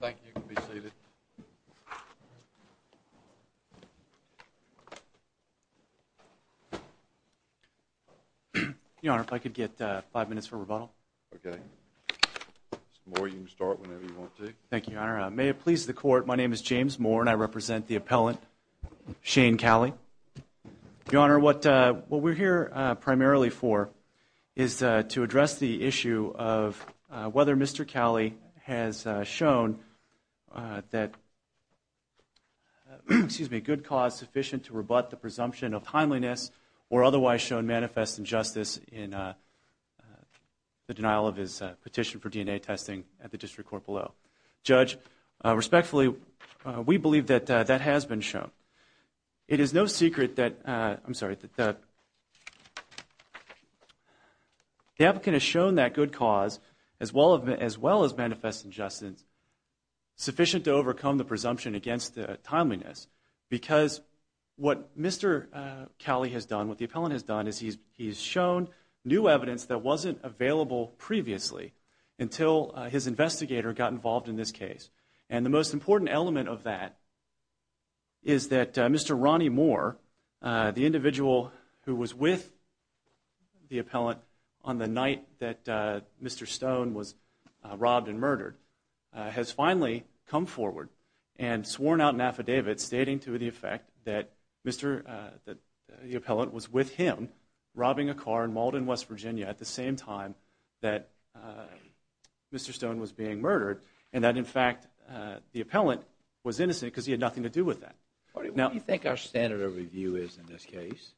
Thank you, you can be seated. Your Honor, if I could get five minutes for rebuttal. Okay. Moore, you can start whenever you want to. Thank you, Your Honor. May it please the Court, my name is James Moore and I represent the appellant Shane Cowley. Your Honor, what we're here primarily for is to address the issue of whether Mr. Cowley has shown that good cause sufficient to rebut the presumption of timeliness or otherwise shown manifest injustice in the denial of his petition for DNA testing at the District Court below. Judge, respectfully, we believe that that has been shown. It is no secret that, I'm sorry, that the applicant has shown that good cause as well as manifest injustice sufficient to overcome the presumption against timeliness because what Mr. Cowley has done, what the appellant has done, is he's shown new evidence that wasn't available previously until his investigator got involved in this case. And the most important element of that is that Mr. Ronnie Moore, the individual who was with the appellant on the night that Mr. Stone was robbed and murdered, has finally come forward and sworn out an affidavit stating to the effect that the appellant was with him robbing a car in Malden, West Virginia at the same time that Mr. Stone was being murdered and that, in fact, the appellant was innocent because he had nothing to do with that. What do you think our standard of review is in this case?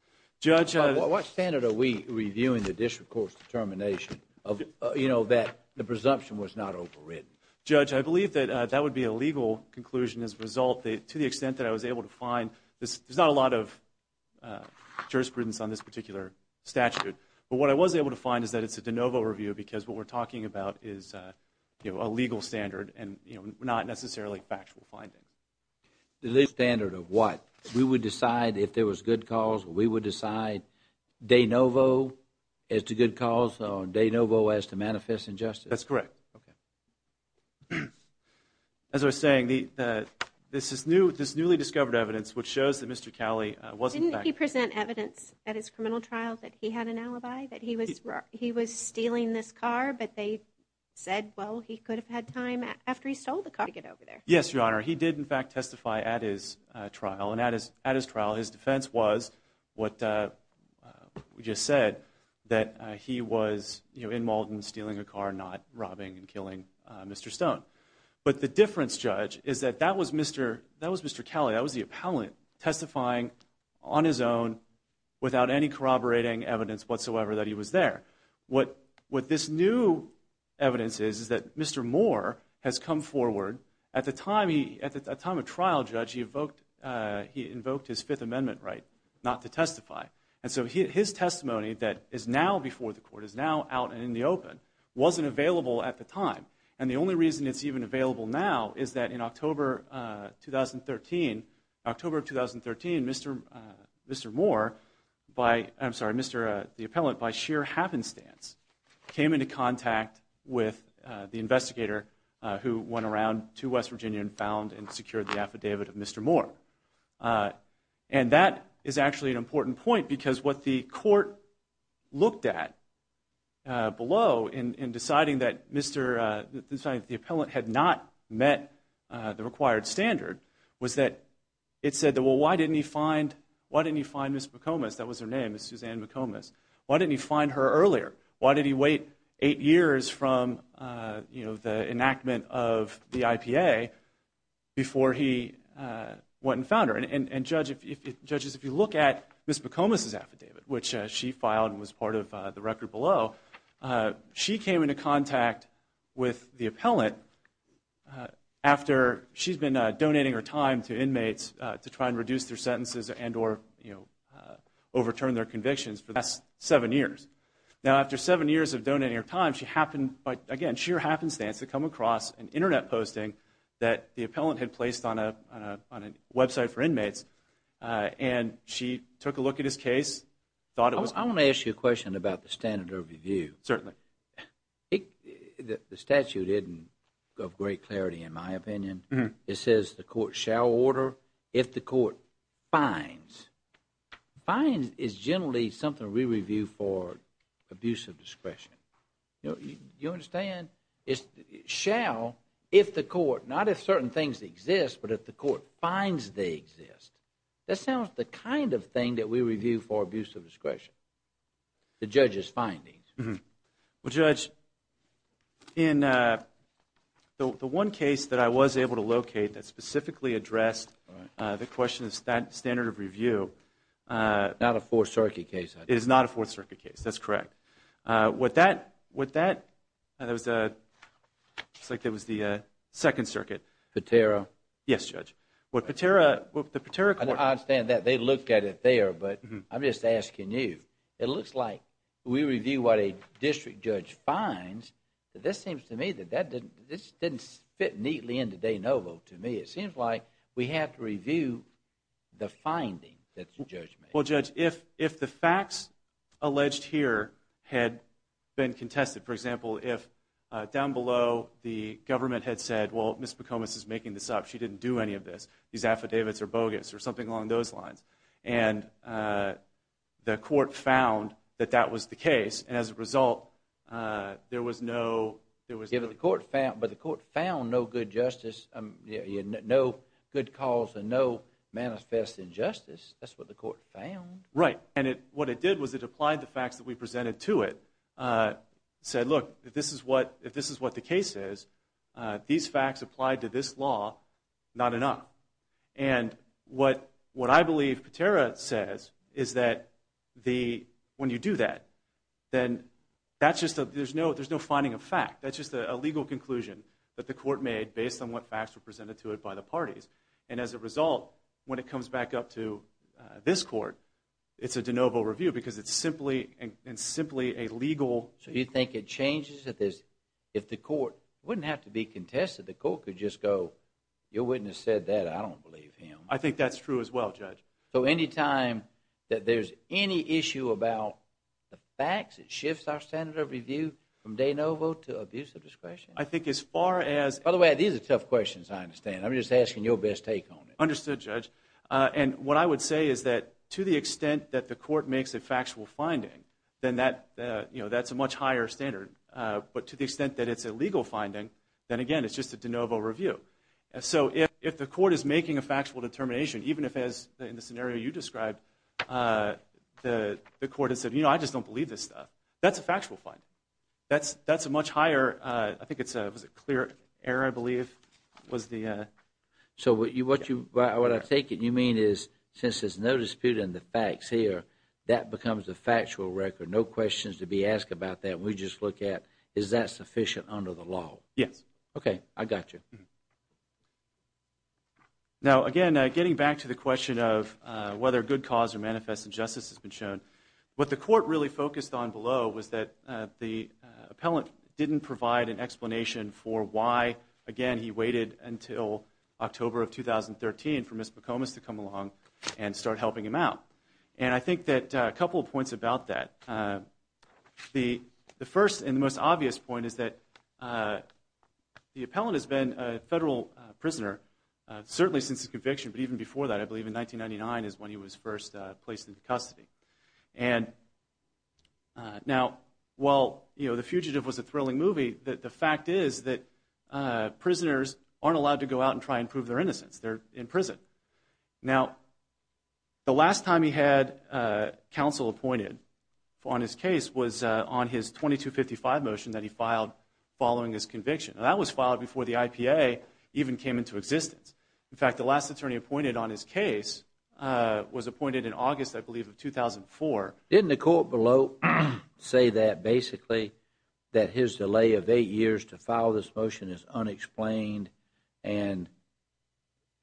What standard are we reviewing the District Court's determination that the presumption was not overridden? Judge, I believe that that would be a legal conclusion as a result. To the extent that I was able to find, there's not a lot of jurisprudence on this particular statute, but what I was able to find is that it's a de novo review because what we're talking about is a legal standard and not necessarily factual finding. The legal standard of what? We would decide if there was good cause or we would decide de novo as to good cause or de novo as to manifest injustice? That's correct. As I was saying, this newly discovered evidence, which shows that Mr. Cowley wasn't… Did he present evidence at his criminal trial that he had an alibi, that he was stealing this car, but they said, well, he could have had time after he stole the car to get over there? Yes, Your Honor. He did, in fact, testify at his trial. And at his trial, his defense was what we just said, that he was in Malden stealing a car, not robbing and killing Mr. Stone. But the difference, Judge, is that that was Mr. Cowley. That was the appellant testifying on his own without any corroborating evidence whatsoever that he was there. What this new evidence is, is that Mr. Moore has come forward. At the time of trial, Judge, he invoked his Fifth Amendment right not to testify. And so his testimony that is now before the court, is now out and in the open, wasn't available at the time. And the only reason it's even available now is that in October of 2013, Mr. Moore, I'm sorry, the appellant, by sheer happenstance, came into contact with the investigator who went around to West Virginia and found and secured the affidavit of Mr. Moore. And that is actually an important point, because what the court looked at below in deciding that the appellant had not met the required standard, was that it said, well, why didn't he find Ms. McComas? That was her name, Suzanne McComas. Why didn't he find her earlier? Why did he wait eight years from the enactment of the IPA before he went and found her? And judges, if you look at Ms. McComas' affidavit, which she filed and was part of the record below, she came into contact with the appellant after she's been donating her time to inmates to try and reduce their sentences and or overturn their convictions for the last seven years. Now, after seven years of donating her time, she happened, by, again, sheer happenstance, to come across an Internet posting that the appellant had placed on a website for inmates. And she took a look at his case, thought it was... I want to ask you a question about the standard of review. Certainly. The statute isn't of great clarity, in my opinion. It says the court shall order if the court finds. Finds is generally something we review for abuse of discretion. You understand? It's shall if the court, not if certain things exist, but if the court finds they exist. That sounds like the kind of thing that we review for abuse of discretion, the judge's findings. Well, Judge, in the one case that I was able to locate that specifically addressed the question of standard of review... Not a Fourth Circuit case, I think. It is not a Fourth Circuit case, that's correct. With that, it looks like it was the Second Circuit. Patera. Yes, Judge. With the Patera court... I understand that. They looked at it there, but I'm just asking you. It looks like we review what a district judge finds. This seems to me that this didn't fit neatly into de novo to me. It seems like we have to review the finding that the judge made. Well, Judge, if the facts alleged here had been contested... For example, if down below the government had said, well, Ms. McComas is making this up. She didn't do any of this. These affidavits are bogus, or something along those lines. And the court found that that was the case. And as a result, there was no... But the court found no good justice. No good cause and no manifest injustice. That's what the court found. Right. And what it did was it applied the facts that we presented to it. Said, look, if this is what the case is, these facts applied to this law, not enough. And what I believe Patera says is that when you do that, then there's no finding of fact. That's just a legal conclusion that the court made based on what facts were presented to it by the parties. And as a result, when it comes back up to this court, it's a de novo review because it's simply a legal... So you think it changes if the court... It wouldn't have to be contested. The court could just go, your witness said that. I don't believe him. I think that's true as well, Judge. So anytime that there's any issue about the facts, it shifts our standard of review from de novo to abuse of discretion? I think as far as... By the way, these are tough questions, I understand. I'm just asking your best take on it. Understood, Judge. And what I would say is that to the extent that the court makes a factual finding, then that's a much higher standard. But to the extent that it's a legal finding, then again, it's just a de novo review. So if the court is making a factual determination, even if, as in the scenario you described, the court has said, you know, I just don't believe this stuff, that's a factual finding. That's a much higher... I think it's a clear error, I believe, was the... So what I take it you mean is since there's no dispute in the facts here, that becomes a factual record. No questions to be asked about that. We just look at is that sufficient under the law. Yes. Okay, I got you. Now, again, getting back to the question of whether good cause or manifest injustice has been shown, what the court really focused on below was that the appellant didn't provide an explanation for why, again, he waited until October of 2013 for Ms. McComas to come along and start helping him out. And I think that a couple of points about that. The first and the most obvious point is that the appellant has been a federal prisoner, certainly since his conviction, but even before that. I believe in 1999 is when he was first placed into custody. And now, while, you know, The Fugitive was a thrilling movie, the fact is that prisoners aren't allowed to go out and try and prove their innocence. They're in prison. Now, the last time he had counsel appointed on his case was on his 2255 motion that he filed following his conviction. Now, that was filed before the IPA even came into existence. In fact, the last attorney appointed on his case was appointed in August, I believe, of 2004. Didn't the court below say that basically that his delay of eight years to file this motion is unexplained and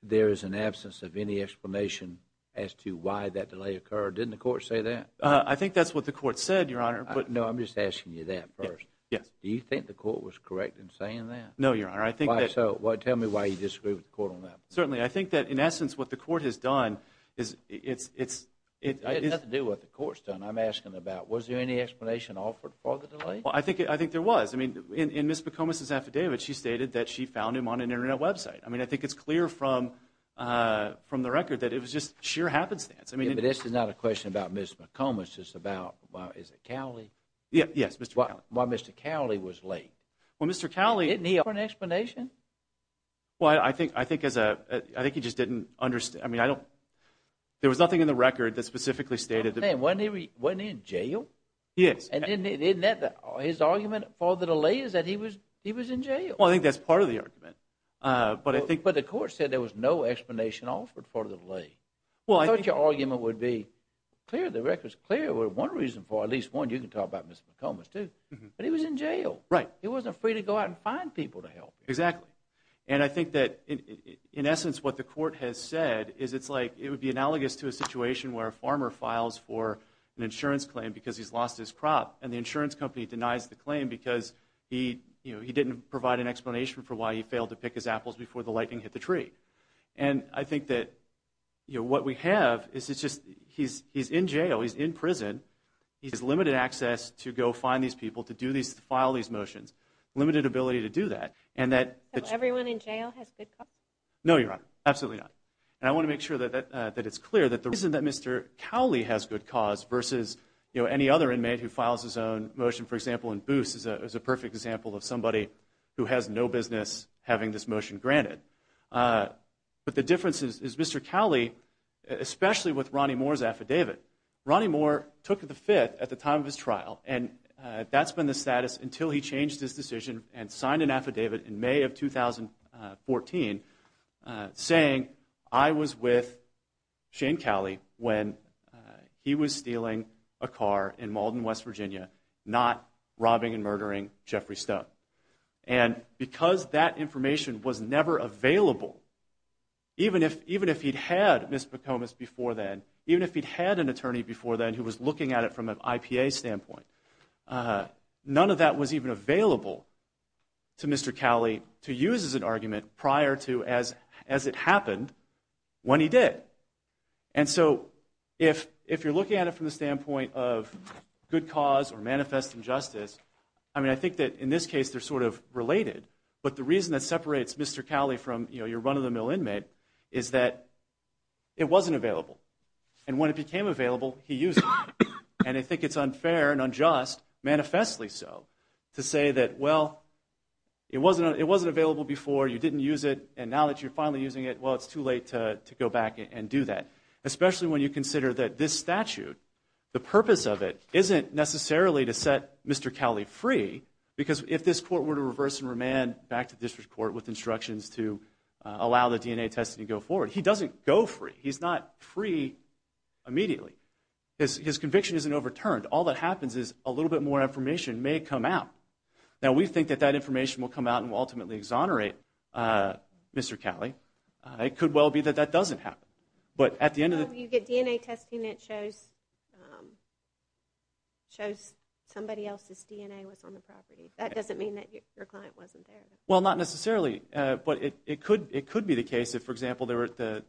there is an absence of any explanation as to why that delay occurred? Didn't the court say that? I think that's what the court said, Your Honor. No, I'm just asking you that first. Yes. Do you think the court was correct in saying that? No, Your Honor. Tell me why you disagree with the court on that. Certainly. I think that, in essence, what the court has done is it's – It has nothing to do with what the court's done. I'm asking about was there any explanation offered for the delay? Well, I think there was. I mean, in Ms. McComas's affidavit, she stated that she found him on an Internet website. I mean, I think it's clear from the record that it was just sheer happenstance. But this is not a question about Ms. McComas. It's about – is it Cowley? Yes, Mr. Cowley. Why Mr. Cowley was late. Well, Mr. Cowley – Didn't he offer an explanation? Well, I think he just didn't – I mean, I don't – there was nothing in the record that specifically stated – Wasn't he in jail? He is. And didn't that – his argument for the delay is that he was in jail. Well, I think that's part of the argument. But I think – But the court said there was no explanation offered for the delay. Well, I think – I thought your argument would be clear. The record's clear with one reason for it, at least one. You can talk about Ms. McComas, too. But he was in jail. Right. He wasn't free to go out and find people to help him. Exactly. And I think that, in essence, what the court has said is it's like – it would be analogous to a situation where a farmer files for an insurance claim because he's lost his crop, and the insurance company denies the claim because he didn't provide an explanation for why he failed to pick his apples before the lightning hit the tree. And I think that what we have is it's just – he's in jail, he's in prison. He has limited access to go find these people, to do these – to file these motions, limited ability to do that, and that – So everyone in jail has good cause? No, Your Honor. Absolutely not. And I want to make sure that it's clear that the reason that Mr. Cowley has good cause versus any other inmate who files his own motion, for example, in Booth's is a perfect example of somebody who has no business having this motion granted. But the difference is Mr. Cowley, especially with Ronnie Moore's affidavit, Ronnie Moore took the Fifth at the time of his trial, and that's been the status until he changed his decision and signed an affidavit in May of 2014 saying, I was with Shane Cowley when he was stealing a car in Malden, West Virginia, not robbing and murdering Jeffrey Stone. And because that information was never available, even if he'd had Ms. McComas before then, even if he'd had an attorney before then who was looking at it from an IPA standpoint, none of that was even available to Mr. Cowley to use as an argument prior to as it happened when he did. And so if you're looking at it from the standpoint of good cause or manifest injustice, I mean I think that in this case they're sort of related, but the reason that separates Mr. Cowley from your run-of-the-mill inmate is that it wasn't available. And when it became available, he used it. And I think it's unfair and unjust, manifestly so, to say that, well, it wasn't available before, you didn't use it, and now that you're finally using it, well, it's too late to go back and do that. Especially when you consider that this statute, the purpose of it isn't necessarily to set Mr. Cowley free because if this court were to reverse and remand back to district court with instructions to allow the DNA testing to go forward, he doesn't go free. He's not free immediately. His conviction isn't overturned. All that happens is a little bit more information may come out. Now, we think that that information will come out and will ultimately exonerate Mr. Cowley. It could well be that that doesn't happen. You get DNA testing that shows somebody else's DNA was on the property. That doesn't mean that your client wasn't there. Well, not necessarily, but it could be the case if, for example, the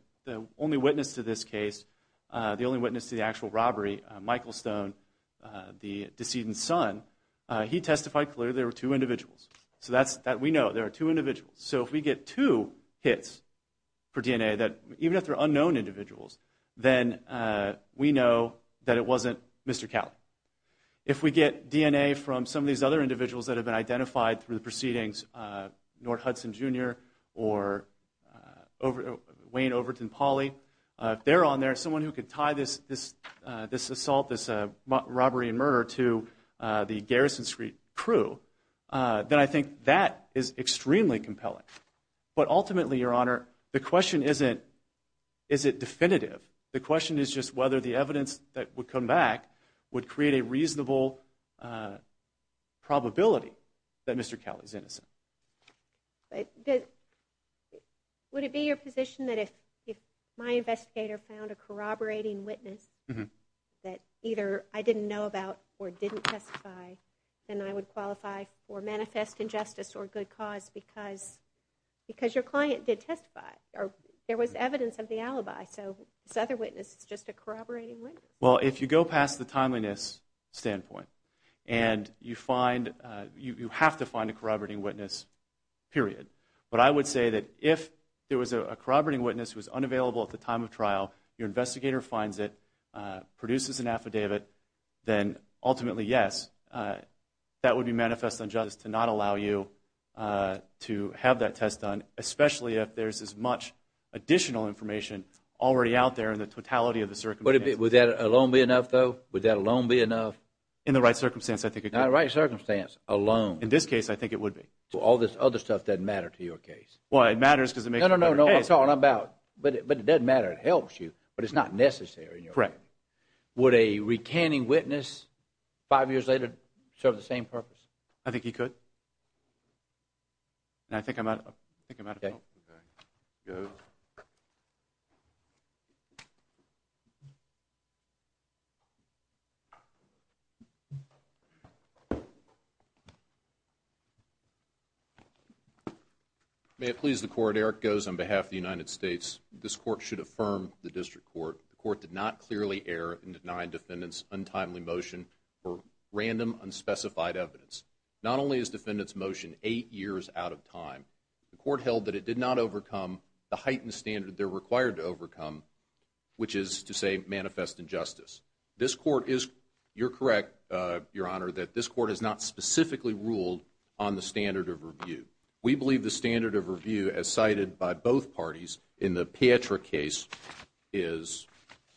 only witness to this case, the only witness to the actual robbery, Michael Stone, the decedent's son, he testified clearly there were two individuals. So we know there are two individuals. So if we get two hits for DNA, even if they're unknown individuals, then we know that it wasn't Mr. Cowley. If we get DNA from some of these other individuals that have been identified through the proceedings, Nord Hudson, Jr., or Wayne Overton-Pauley, if they're on there, someone who could tie this assault, this robbery and murder, to the Garrison Street crew, then I think that is extremely compelling. But ultimately, Your Honor, the question isn't is it definitive. The question is just whether the evidence that would come back would create a reasonable probability that Mr. Cowley is innocent. Would it be your position that if my investigator found a corroborating witness that either I didn't know about or didn't testify, then I would qualify for manifest injustice or good cause because your client did testify or there was evidence of the alibi, so this other witness is just a corroborating witness? Well, if you go past the timeliness standpoint and you have to find a corroborating witness, period. But I would say that if there was a corroborating witness who was unavailable at the time of trial, your investigator finds it, produces an affidavit, then ultimately, yes, that would be manifest injustice to not allow you to have that test done, especially if there's as much additional information already out there in the totality of the circumstances. Would that alone be enough, though? Would that alone be enough? In the right circumstance, I think it could. In the right circumstance, alone. In this case, I think it would be. Well, all this other stuff doesn't matter to your case. Well, it matters because it makes it better. No, no, no, no, I'm talking about, but it doesn't matter. It helps you, but it's not necessary in your case. Correct. Would a recanning witness five years later serve the same purpose? I think he could. I think I'm out of time. Okay, go ahead. May it please the Court, Eric Goes on behalf of the United States, this Court should affirm the District Court, the Court did not clearly err in denying defendants' untimely motion for random, unspecified evidence. Not only is defendants' motion eight years out of time, the Court held that it did not overcome the heightened standard they're required to overcome, which is to say manifest injustice. This Court is, you're correct, Your Honor, that this Court has not specifically ruled on the standard of review. We believe the standard of review as cited by both parties in the Pietra case is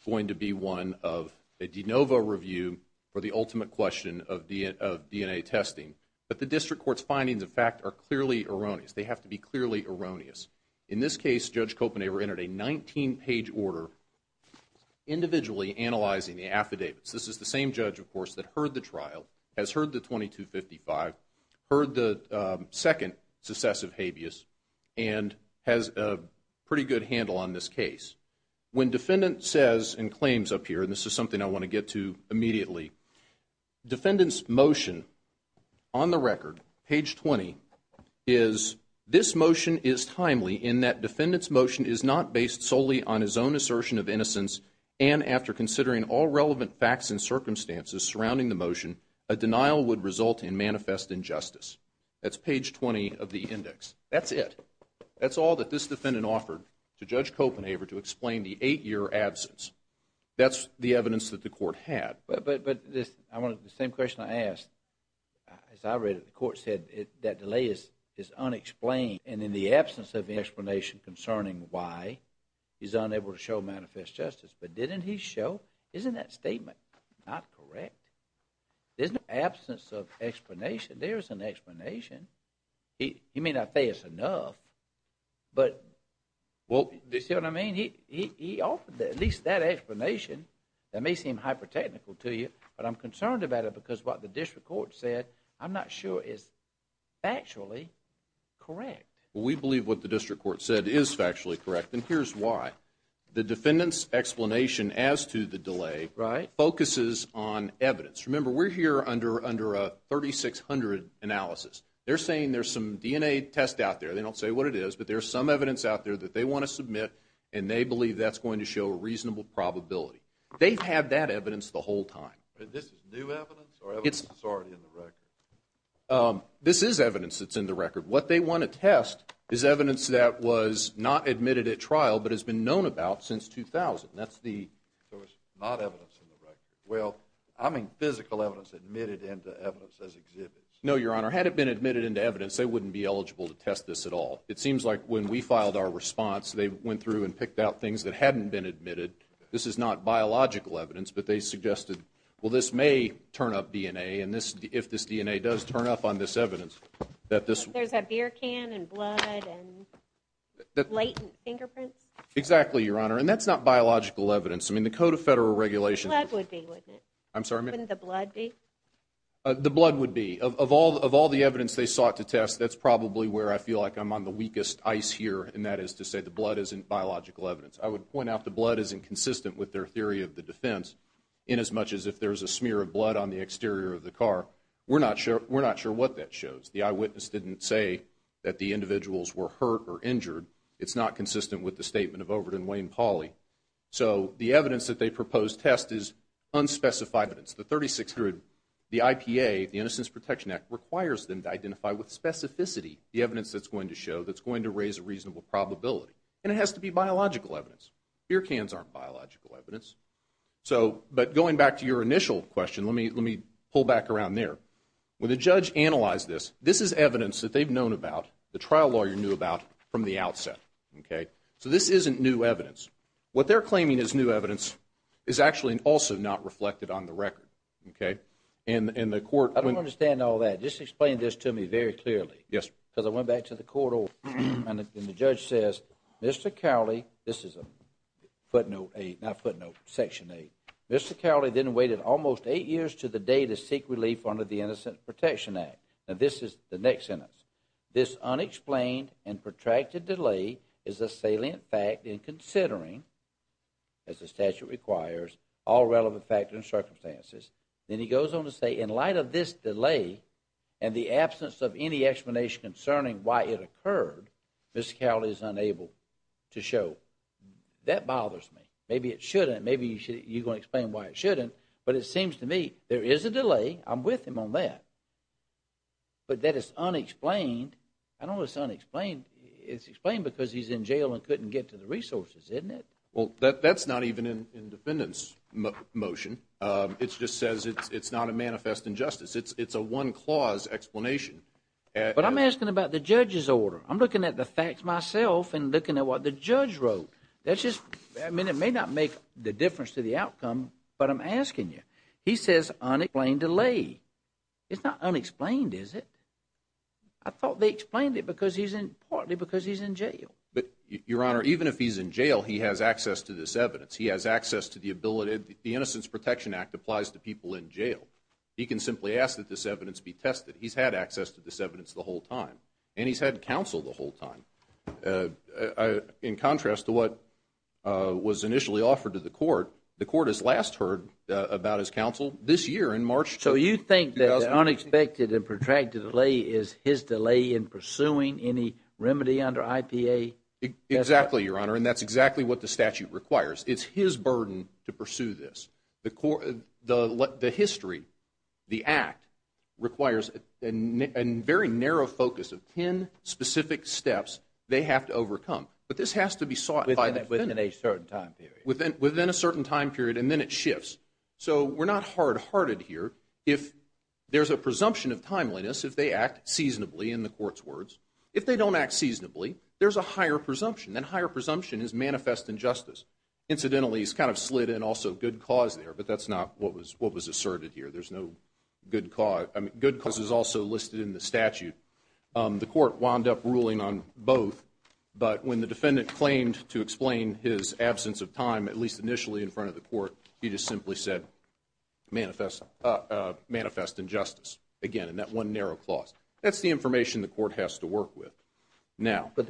going to be one of a de novo review for the ultimate question of DNA testing but the District Court's findings, in fact, are clearly erroneous. They have to be clearly erroneous. In this case, Judge Kopenhaver entered a 19-page order individually analyzing the affidavits. This is the same judge, of course, that heard the trial, has heard the 2255, heard the second successive habeas, and has a pretty good handle on this case. When defendant says in claims up here, and this is something I want to get to immediately, defendant's motion on the record, page 20, is this motion is timely in that defendant's motion is not based solely on his own assertion of innocence, and after considering all relevant facts and circumstances surrounding the motion, a denial would result in manifest injustice. That's page 20 of the index. That's it. That's all that this defendant offered to Judge Kopenhaver to explain the eight-year absence. That's the evidence that the Court had. But the same question I asked, as I read it, the Court said that delay is unexplained, and in the absence of explanation concerning why, he's unable to show manifest justice. But didn't he show? Isn't that statement not correct? There's an absence of explanation. There is an explanation. He may not say it's enough, but, well, do you see what I mean? He offered at least that explanation. That may seem hyper-technical to you, but I'm concerned about it because what the district court said, I'm not sure is factually correct. We believe what the district court said is factually correct, and here's why. The defendant's explanation as to the delay focuses on evidence. Remember, we're here under a 3,600 analysis. They're saying there's some DNA test out there. They don't say what it is, but there's some evidence out there that they want to submit, and they believe that's going to show a reasonable probability. They've had that evidence the whole time. This is new evidence or evidence that's already in the record? This is evidence that's in the record. What they want to test is evidence that was not admitted at trial but has been known about since 2000. So it's not evidence in the record. Well, I mean physical evidence admitted into evidence as exhibits. No, Your Honor, had it been admitted into evidence, they wouldn't be eligible to test this at all. It seems like when we filed our response, they went through and picked out things that hadn't been admitted. This is not biological evidence, but they suggested, well, this may turn up DNA if this DNA does turn up on this evidence. There's a beer can and blood and latent fingerprints? Exactly, Your Honor, and that's not biological evidence. I mean, the Code of Federal Regulations would be. The blood would be, wouldn't it? I'm sorry, ma'am? Wouldn't the blood be? The blood would be. Of all the evidence they sought to test, that's probably where I feel like I'm on the weakest ice here, and that is to say the blood isn't biological evidence. I would point out the blood isn't consistent with their theory of the defense inasmuch as if there's a smear of blood on the exterior of the car. We're not sure what that shows. The eyewitness didn't say that the individuals were hurt or injured. It's not consistent with the statement of Overton Wayne Pauley. So the evidence that they proposed test is unspecified evidence. The 3600, the IPA, the Innocence Protection Act, requires them to identify with specificity the evidence that's going to show that's going to raise a reasonable probability, and it has to be biological evidence. Beer cans aren't biological evidence. But going back to your initial question, let me pull back around there. When the judge analyzed this, this is evidence that they've known about, the trial lawyer knew about, from the outset. So this isn't new evidence. What they're claiming is new evidence is actually also not reflected on the record. Okay. I don't understand all that. Just explain this to me very clearly. Yes, sir. Because I went back to the court, and the judge says, Mr. Cowley, this is a footnote, not footnote, Section 8. Mr. Cowley then waited almost eight years to the day to seek relief under the Innocence Protection Act. Now this is the next sentence. This unexplained and protracted delay is a salient fact in considering, as the statute requires, all relevant factors and circumstances. Then he goes on to say, in light of this delay and the absence of any explanation concerning why it occurred, Mr. Cowley is unable to show. That bothers me. Maybe it shouldn't. Maybe you're going to explain why it shouldn't. But it seems to me there is a delay. I'm with him on that. But that is unexplained. I know it's unexplained. It's explained because he's in jail and couldn't get to the resources, isn't it? Well, that's not even in the defendant's motion. It just says it's not a manifest injustice. It's a one-clause explanation. But I'm asking about the judge's order. I'm looking at the facts myself and looking at what the judge wrote. I mean, it may not make the difference to the outcome, but I'm asking you. He says unexplained delay. It's not unexplained, is it? I thought they explained it partly because he's in jail. But, Your Honor, even if he's in jail, he has access to this evidence. He has access to the ability. The Innocence Protection Act applies to people in jail. He can simply ask that this evidence be tested. He's had access to this evidence the whole time, and he's had counsel the whole time. In contrast to what was initially offered to the court, the court has last heard about his counsel this year in March. So you think that the unexpected and protracted delay is his delay in pursuing any remedy under IPA? Exactly, Your Honor, and that's exactly what the statute requires. It's his burden to pursue this. The history, the act, requires a very narrow focus of ten specific steps they have to overcome. But this has to be sought by the defendant. Within a certain time period. Within a certain time period, and then it shifts. So we're not hard-hearted here. If there's a presumption of timeliness, if they act seasonably in the court's words, if they don't act seasonably, there's a higher presumption. And higher presumption is manifest injustice. Incidentally, he's kind of slid in also good cause there, but that's not what was asserted here. There's no good cause. I mean, good cause is also listed in the statute. The court wound up ruling on both. But when the defendant claimed to explain his absence of time, at least initially in front of the court, he just simply said, manifest injustice. Again, in that one narrow clause. That's the information the court has to work with. But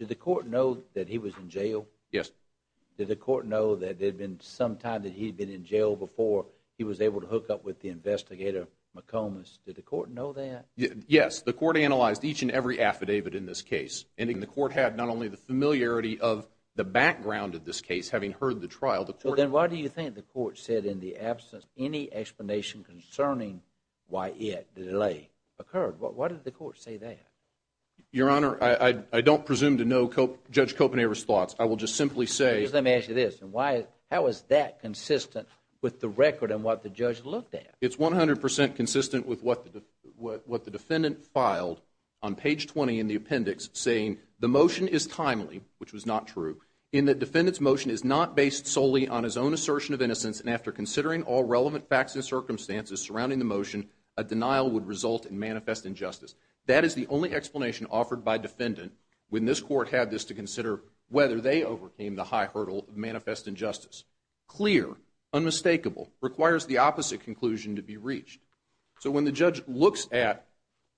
did the court know that he was in jail? Yes. Did the court know that there had been some time that he had been in jail before he was able to hook up with the investigator McComas? Did the court know that? Yes. The court analyzed each and every affidavit in this case. And the court had not only the familiarity of the background of this case, having heard the trial, but then why do you think the court said in the absence of any explanation concerning why the delay occurred? Why did the court say that? Your Honor, I don't presume to know Judge Kopenhaver's thoughts. I will just simply say, Let me ask you this. How is that consistent with the record and what the judge looked at? It's 100% consistent with what the defendant filed on page 20 in the appendix saying, The motion is timely, which was not true, in that defendant's motion is not based solely on his own assertion of innocence, and after considering all relevant facts and circumstances surrounding the motion, a denial would result in manifest injustice. That is the only explanation offered by defendant when this court had this to consider whether they overcame the high hurdle of manifest injustice. Clear. Unmistakable. Requires the opposite conclusion to be reached. So when the judge looks at,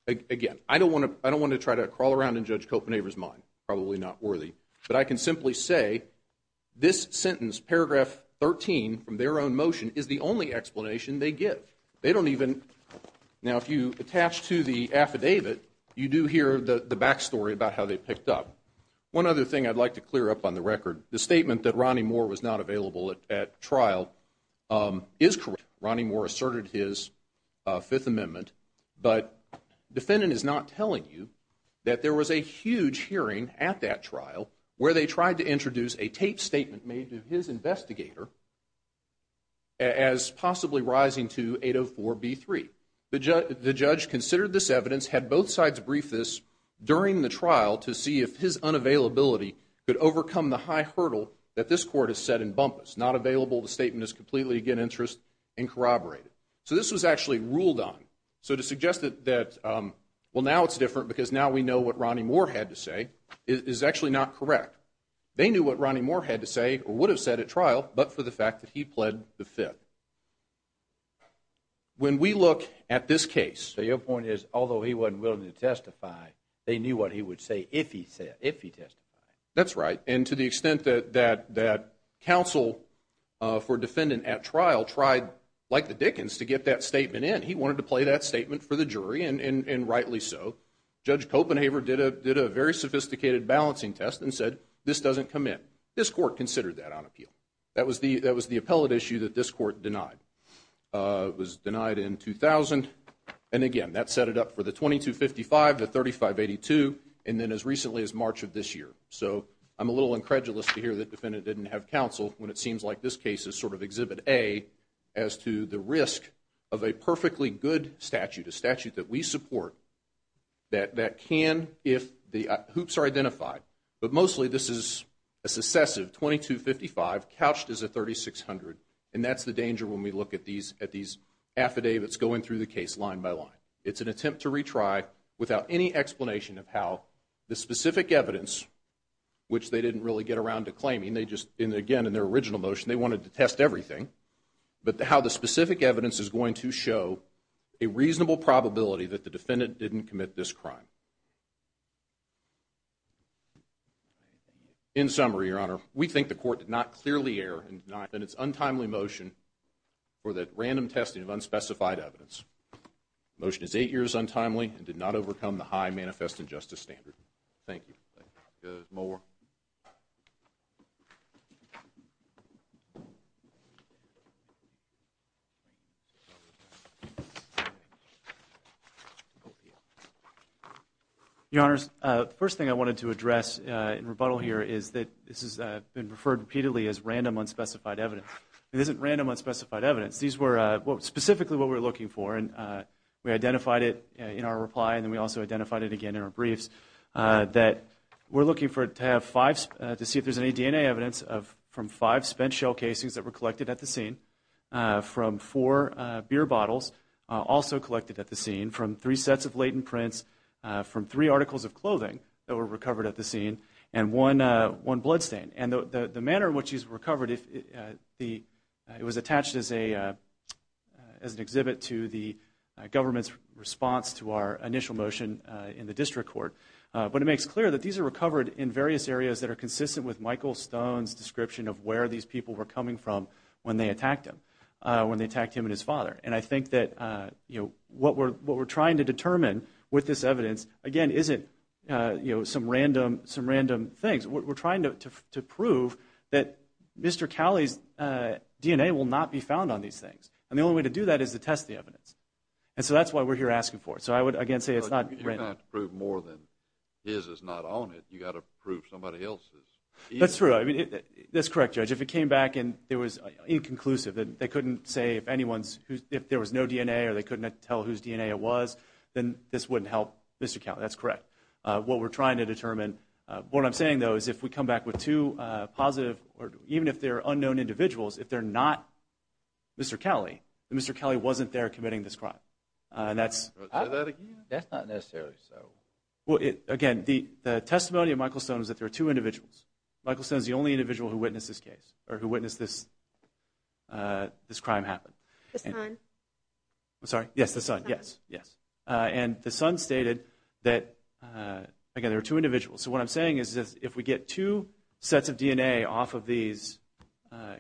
again, I don't want to try to crawl around and judge Kopenhaver's mind. Probably not worthy. But I can simply say, this sentence, paragraph 13, from their own motion, is the only explanation they give. They don't even, now if you attach to the affidavit, you do hear the back story about how they picked up. One other thing I'd like to clear up on the record. The statement that Ronnie Moore was not available at trial is correct. Ronnie Moore asserted his Fifth Amendment, but defendant is not telling you that there was a huge hearing at that trial where they tried to introduce a taped statement made to his investigator as possibly rising to 804B3. The judge considered this evidence, had both sides brief this during the trial to see if his unavailability could overcome the high hurdle that this court has set in bumpus. It's not available. The statement is completely, again, interest and corroborated. So this was actually ruled on. So to suggest that, well, now it's different because now we know what Ronnie Moore had to say is actually not correct. They knew what Ronnie Moore had to say or would have said at trial, but for the fact that he pled the Fifth. When we look at this case. So your point is, although he wasn't willing to testify, they knew what he would say if he testified. That's right. And to the extent that counsel for defendant at trial tried, like the Dickens, to get that statement in, he wanted to play that statement for the jury, and rightly so. Judge Copenhaver did a very sophisticated balancing test and said, this doesn't come in. This court considered that on appeal. That was the appellate issue that this court denied. It was denied in 2000. And again, that set it up for the 2255, the 3582, and then as recently as March of this year. So I'm a little incredulous to hear that defendant didn't have counsel when it seems like this case is sort of exhibit A as to the risk of a perfectly good statute, a statute that we support, that can if the hoops are identified. But mostly this is a successive 2255 couched as a 3600, and that's the danger when we look at these affidavits going through the case line by line. It's an attempt to retry without any explanation of how the specific evidence, which they didn't really get around to claiming, they just, again, in their original motion, they wanted to test everything, but how the specific evidence is going to show a reasonable probability that the defendant didn't commit this crime. In summary, Your Honor, we think the court did not clearly err in denying that it's untimely motion for that random testing of unspecified evidence. The motion is eight years untimely and did not overcome the high manifest injustice standard. Thank you. Your Honors, the first thing I wanted to address in rebuttal here is that this has been referred repeatedly as random unspecified evidence. It isn't random unspecified evidence. These were specifically what we were looking for, and we identified it in our reply, and then we also identified it again in our briefs, that we're looking to see if there's any DNA evidence from five spent shell casings that were collected at the scene, from four beer bottles also collected at the scene, from three sets of latent prints, from three articles of clothing that were recovered at the scene, and one bloodstain. And the manner in which these were recovered, it was attached as an exhibit to the government's response to our initial motion in the district court. But it makes clear that these are recovered in various areas that are consistent with Michael Stone's description of where these people were coming from when they attacked him, when they attacked him and his father. And I think that what we're trying to determine with this evidence, again, isn't some random things. We're trying to prove that Mr. Cowley's DNA will not be found on these things. And the only way to do that is to test the evidence. And so that's why we're here asking for it. So I would, again, say it's not random. But you've got to prove more than his is not on it. You've got to prove somebody else's. That's true. That's correct, Judge. If it came back and it was inconclusive, they couldn't say if anyone's, if there was no DNA or they couldn't tell whose DNA it was, then this wouldn't help Mr. Cowley. That's correct. That's what we're trying to determine. What I'm saying, though, is if we come back with two positive or even if they're unknown individuals, if they're not Mr. Cowley, then Mr. Cowley wasn't there committing this crime. Say that again? That's not necessarily so. Again, the testimony of Michael Stone is that there are two individuals. Michael Stone is the only individual who witnessed this case or who witnessed this crime happen. The son. I'm sorry? Yes, the son. Yes, yes. And the son stated that, again, there are two individuals. So what I'm saying is if we get two sets of DNA off of these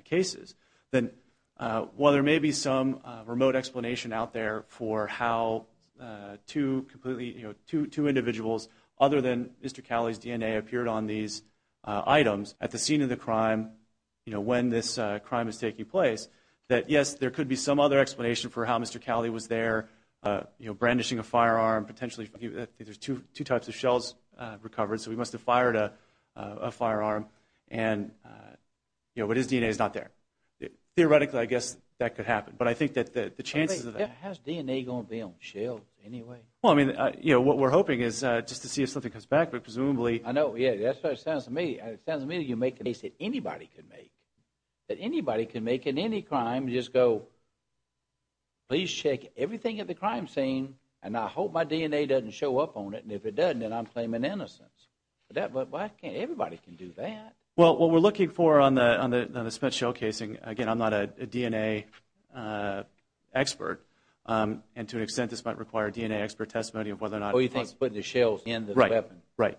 cases, then while there may be some remote explanation out there for how two individuals, other than Mr. Cowley's DNA, appeared on these items at the scene of the crime, you know, when this crime is taking place, that, yes, there could be some other explanation for how Mr. Cowley was there brandishing a firearm, potentially there's two types of shells recovered, so he must have fired a firearm. And, you know, but his DNA is not there. Theoretically, I guess that could happen. But I think that the chances of that. How's DNA going to be on shells anyway? Well, I mean, you know, what we're hoping is just to see if something comes back, but presumably. I know. Yeah, that's what it sounds to me. It sounds to me like you're making a case that anybody could make, that anybody can make in any crime, just go, please check everything at the crime scene, and I hope my DNA doesn't show up on it, and if it doesn't, then I'm claiming innocence. But everybody can do that. Well, what we're looking for on the spent shell casing, again, I'm not a DNA expert, and to an extent this might require DNA expert testimony of whether or not. Oh, you think putting the shells in the weapon. Right, right.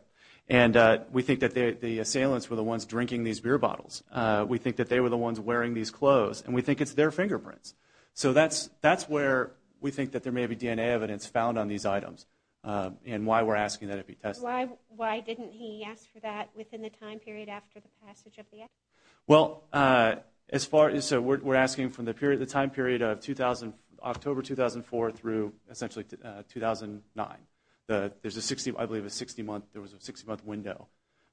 And we think that the assailants were the ones drinking these beer bottles. We think that they were the ones wearing these clothes, and we think it's their fingerprints. So that's where we think that there may be DNA evidence found on these items and why we're asking that it be tested. Why didn't he ask for that within the time period after the passage of the act? Well, as far as so we're asking from the time period of October 2004 through essentially 2009. There's a 60-month window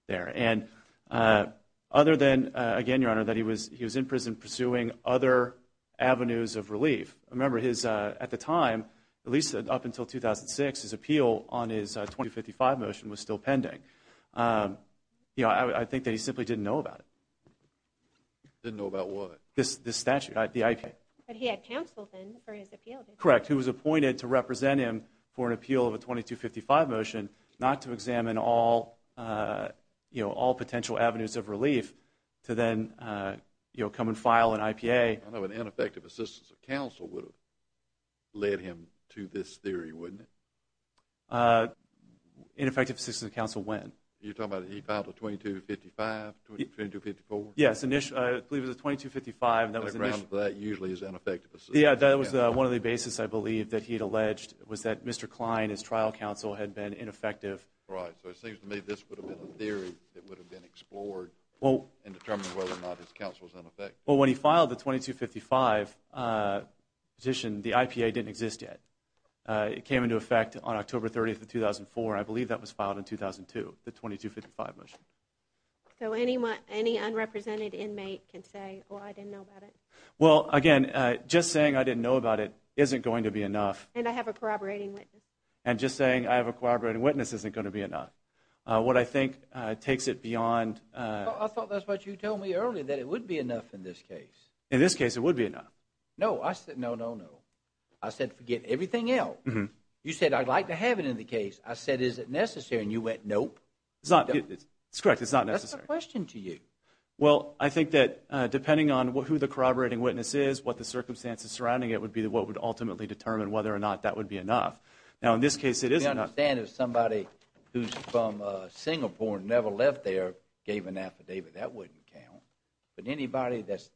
there. And other than, again, Your Honor, that he was in prison pursuing other avenues of relief, remember at the time, at least up until 2006, his appeal on his 2255 motion was still pending. I think that he simply didn't know about it. Didn't know about what? This statute, the IPA. But he had counsel then for his appeal. Correct, who was appointed to represent him for an appeal of a 2255 motion not to examine all potential avenues of relief to then come and file an IPA. I know an ineffective assistance of counsel would have led him to this theory, wouldn't it? Ineffective assistance of counsel when? You're talking about he filed a 2255, 2254? Yes, I believe it was a 2255. That usually is ineffective assistance. Yeah, that was one of the basis, I believe, that he had alleged was that Mr. Klein, his trial counsel, had been ineffective. Right, so it seems to me this would have been a theory that would have been explored and determined whether or not his counsel was ineffective. Well, when he filed the 2255 petition, the IPA didn't exist yet. It came into effect on October 30th of 2004. I believe that was filed in 2002, the 2255 motion. So any unrepresented inmate can say, oh, I didn't know about it? Well, again, just saying I didn't know about it isn't going to be enough. And I have a corroborating witness. And just saying I have a corroborating witness isn't going to be enough. What I think takes it beyond I thought that's what you told me earlier, that it wouldn't be enough in this case. In this case, it would be enough. No, I said no, no, no. I said forget everything else. You said I'd like to have it in the case. I said is it necessary, and you went nope. It's correct, it's not necessary. That's my question to you. Well, I think that depending on who the corroborating witness is, what the circumstances surrounding it would be, what would ultimately determine whether or not that would be enough. Now, in this case, it is enough. We understand if somebody who's from Singapore and never left there gave an affidavit, that wouldn't count. But anybody that's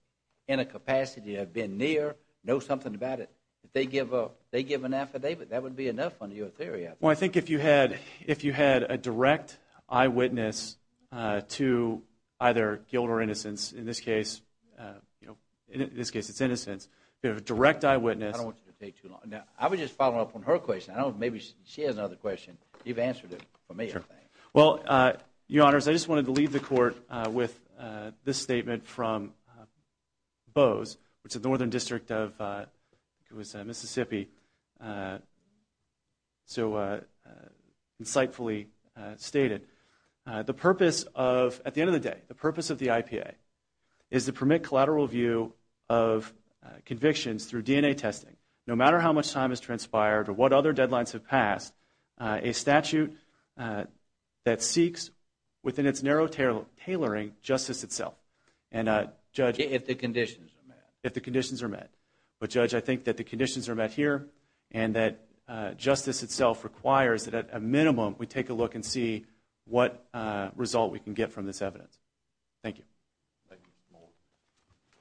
in a capacity to have been near, know something about it, if they give an affidavit, that would be enough under your theory, I think. Well, I think if you had a direct eyewitness to either guilt or innocence, in this case, it's innocence. If you have a direct eyewitness. I don't want you to take too long. I would just follow up on her question. I don't know if maybe she has another question. You've answered it for me, I think. Well, Your Honors, I just wanted to leave the court with this statement from Bowes, which is the northern district of Mississippi, so insightfully stated. The purpose of, at the end of the day, the purpose of the IPA, is to permit collateral review of convictions through DNA testing, no matter how much time has transpired or what other deadlines have passed, a statute that seeks, within its narrow tailoring, justice itself. If the conditions are met. If the conditions are met. But, Judge, I think that the conditions are met here, and that justice itself requires that, at a minimum, we take a look and see what result we can get from this evidence. Thank you. Thank you.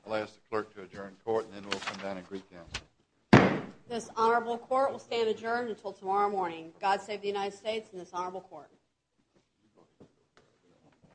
I'll ask the clerk to adjourn the court, and then we'll come down and reconvene. This honorable court will stand adjourned until tomorrow morning. God save the United States and this honorable court.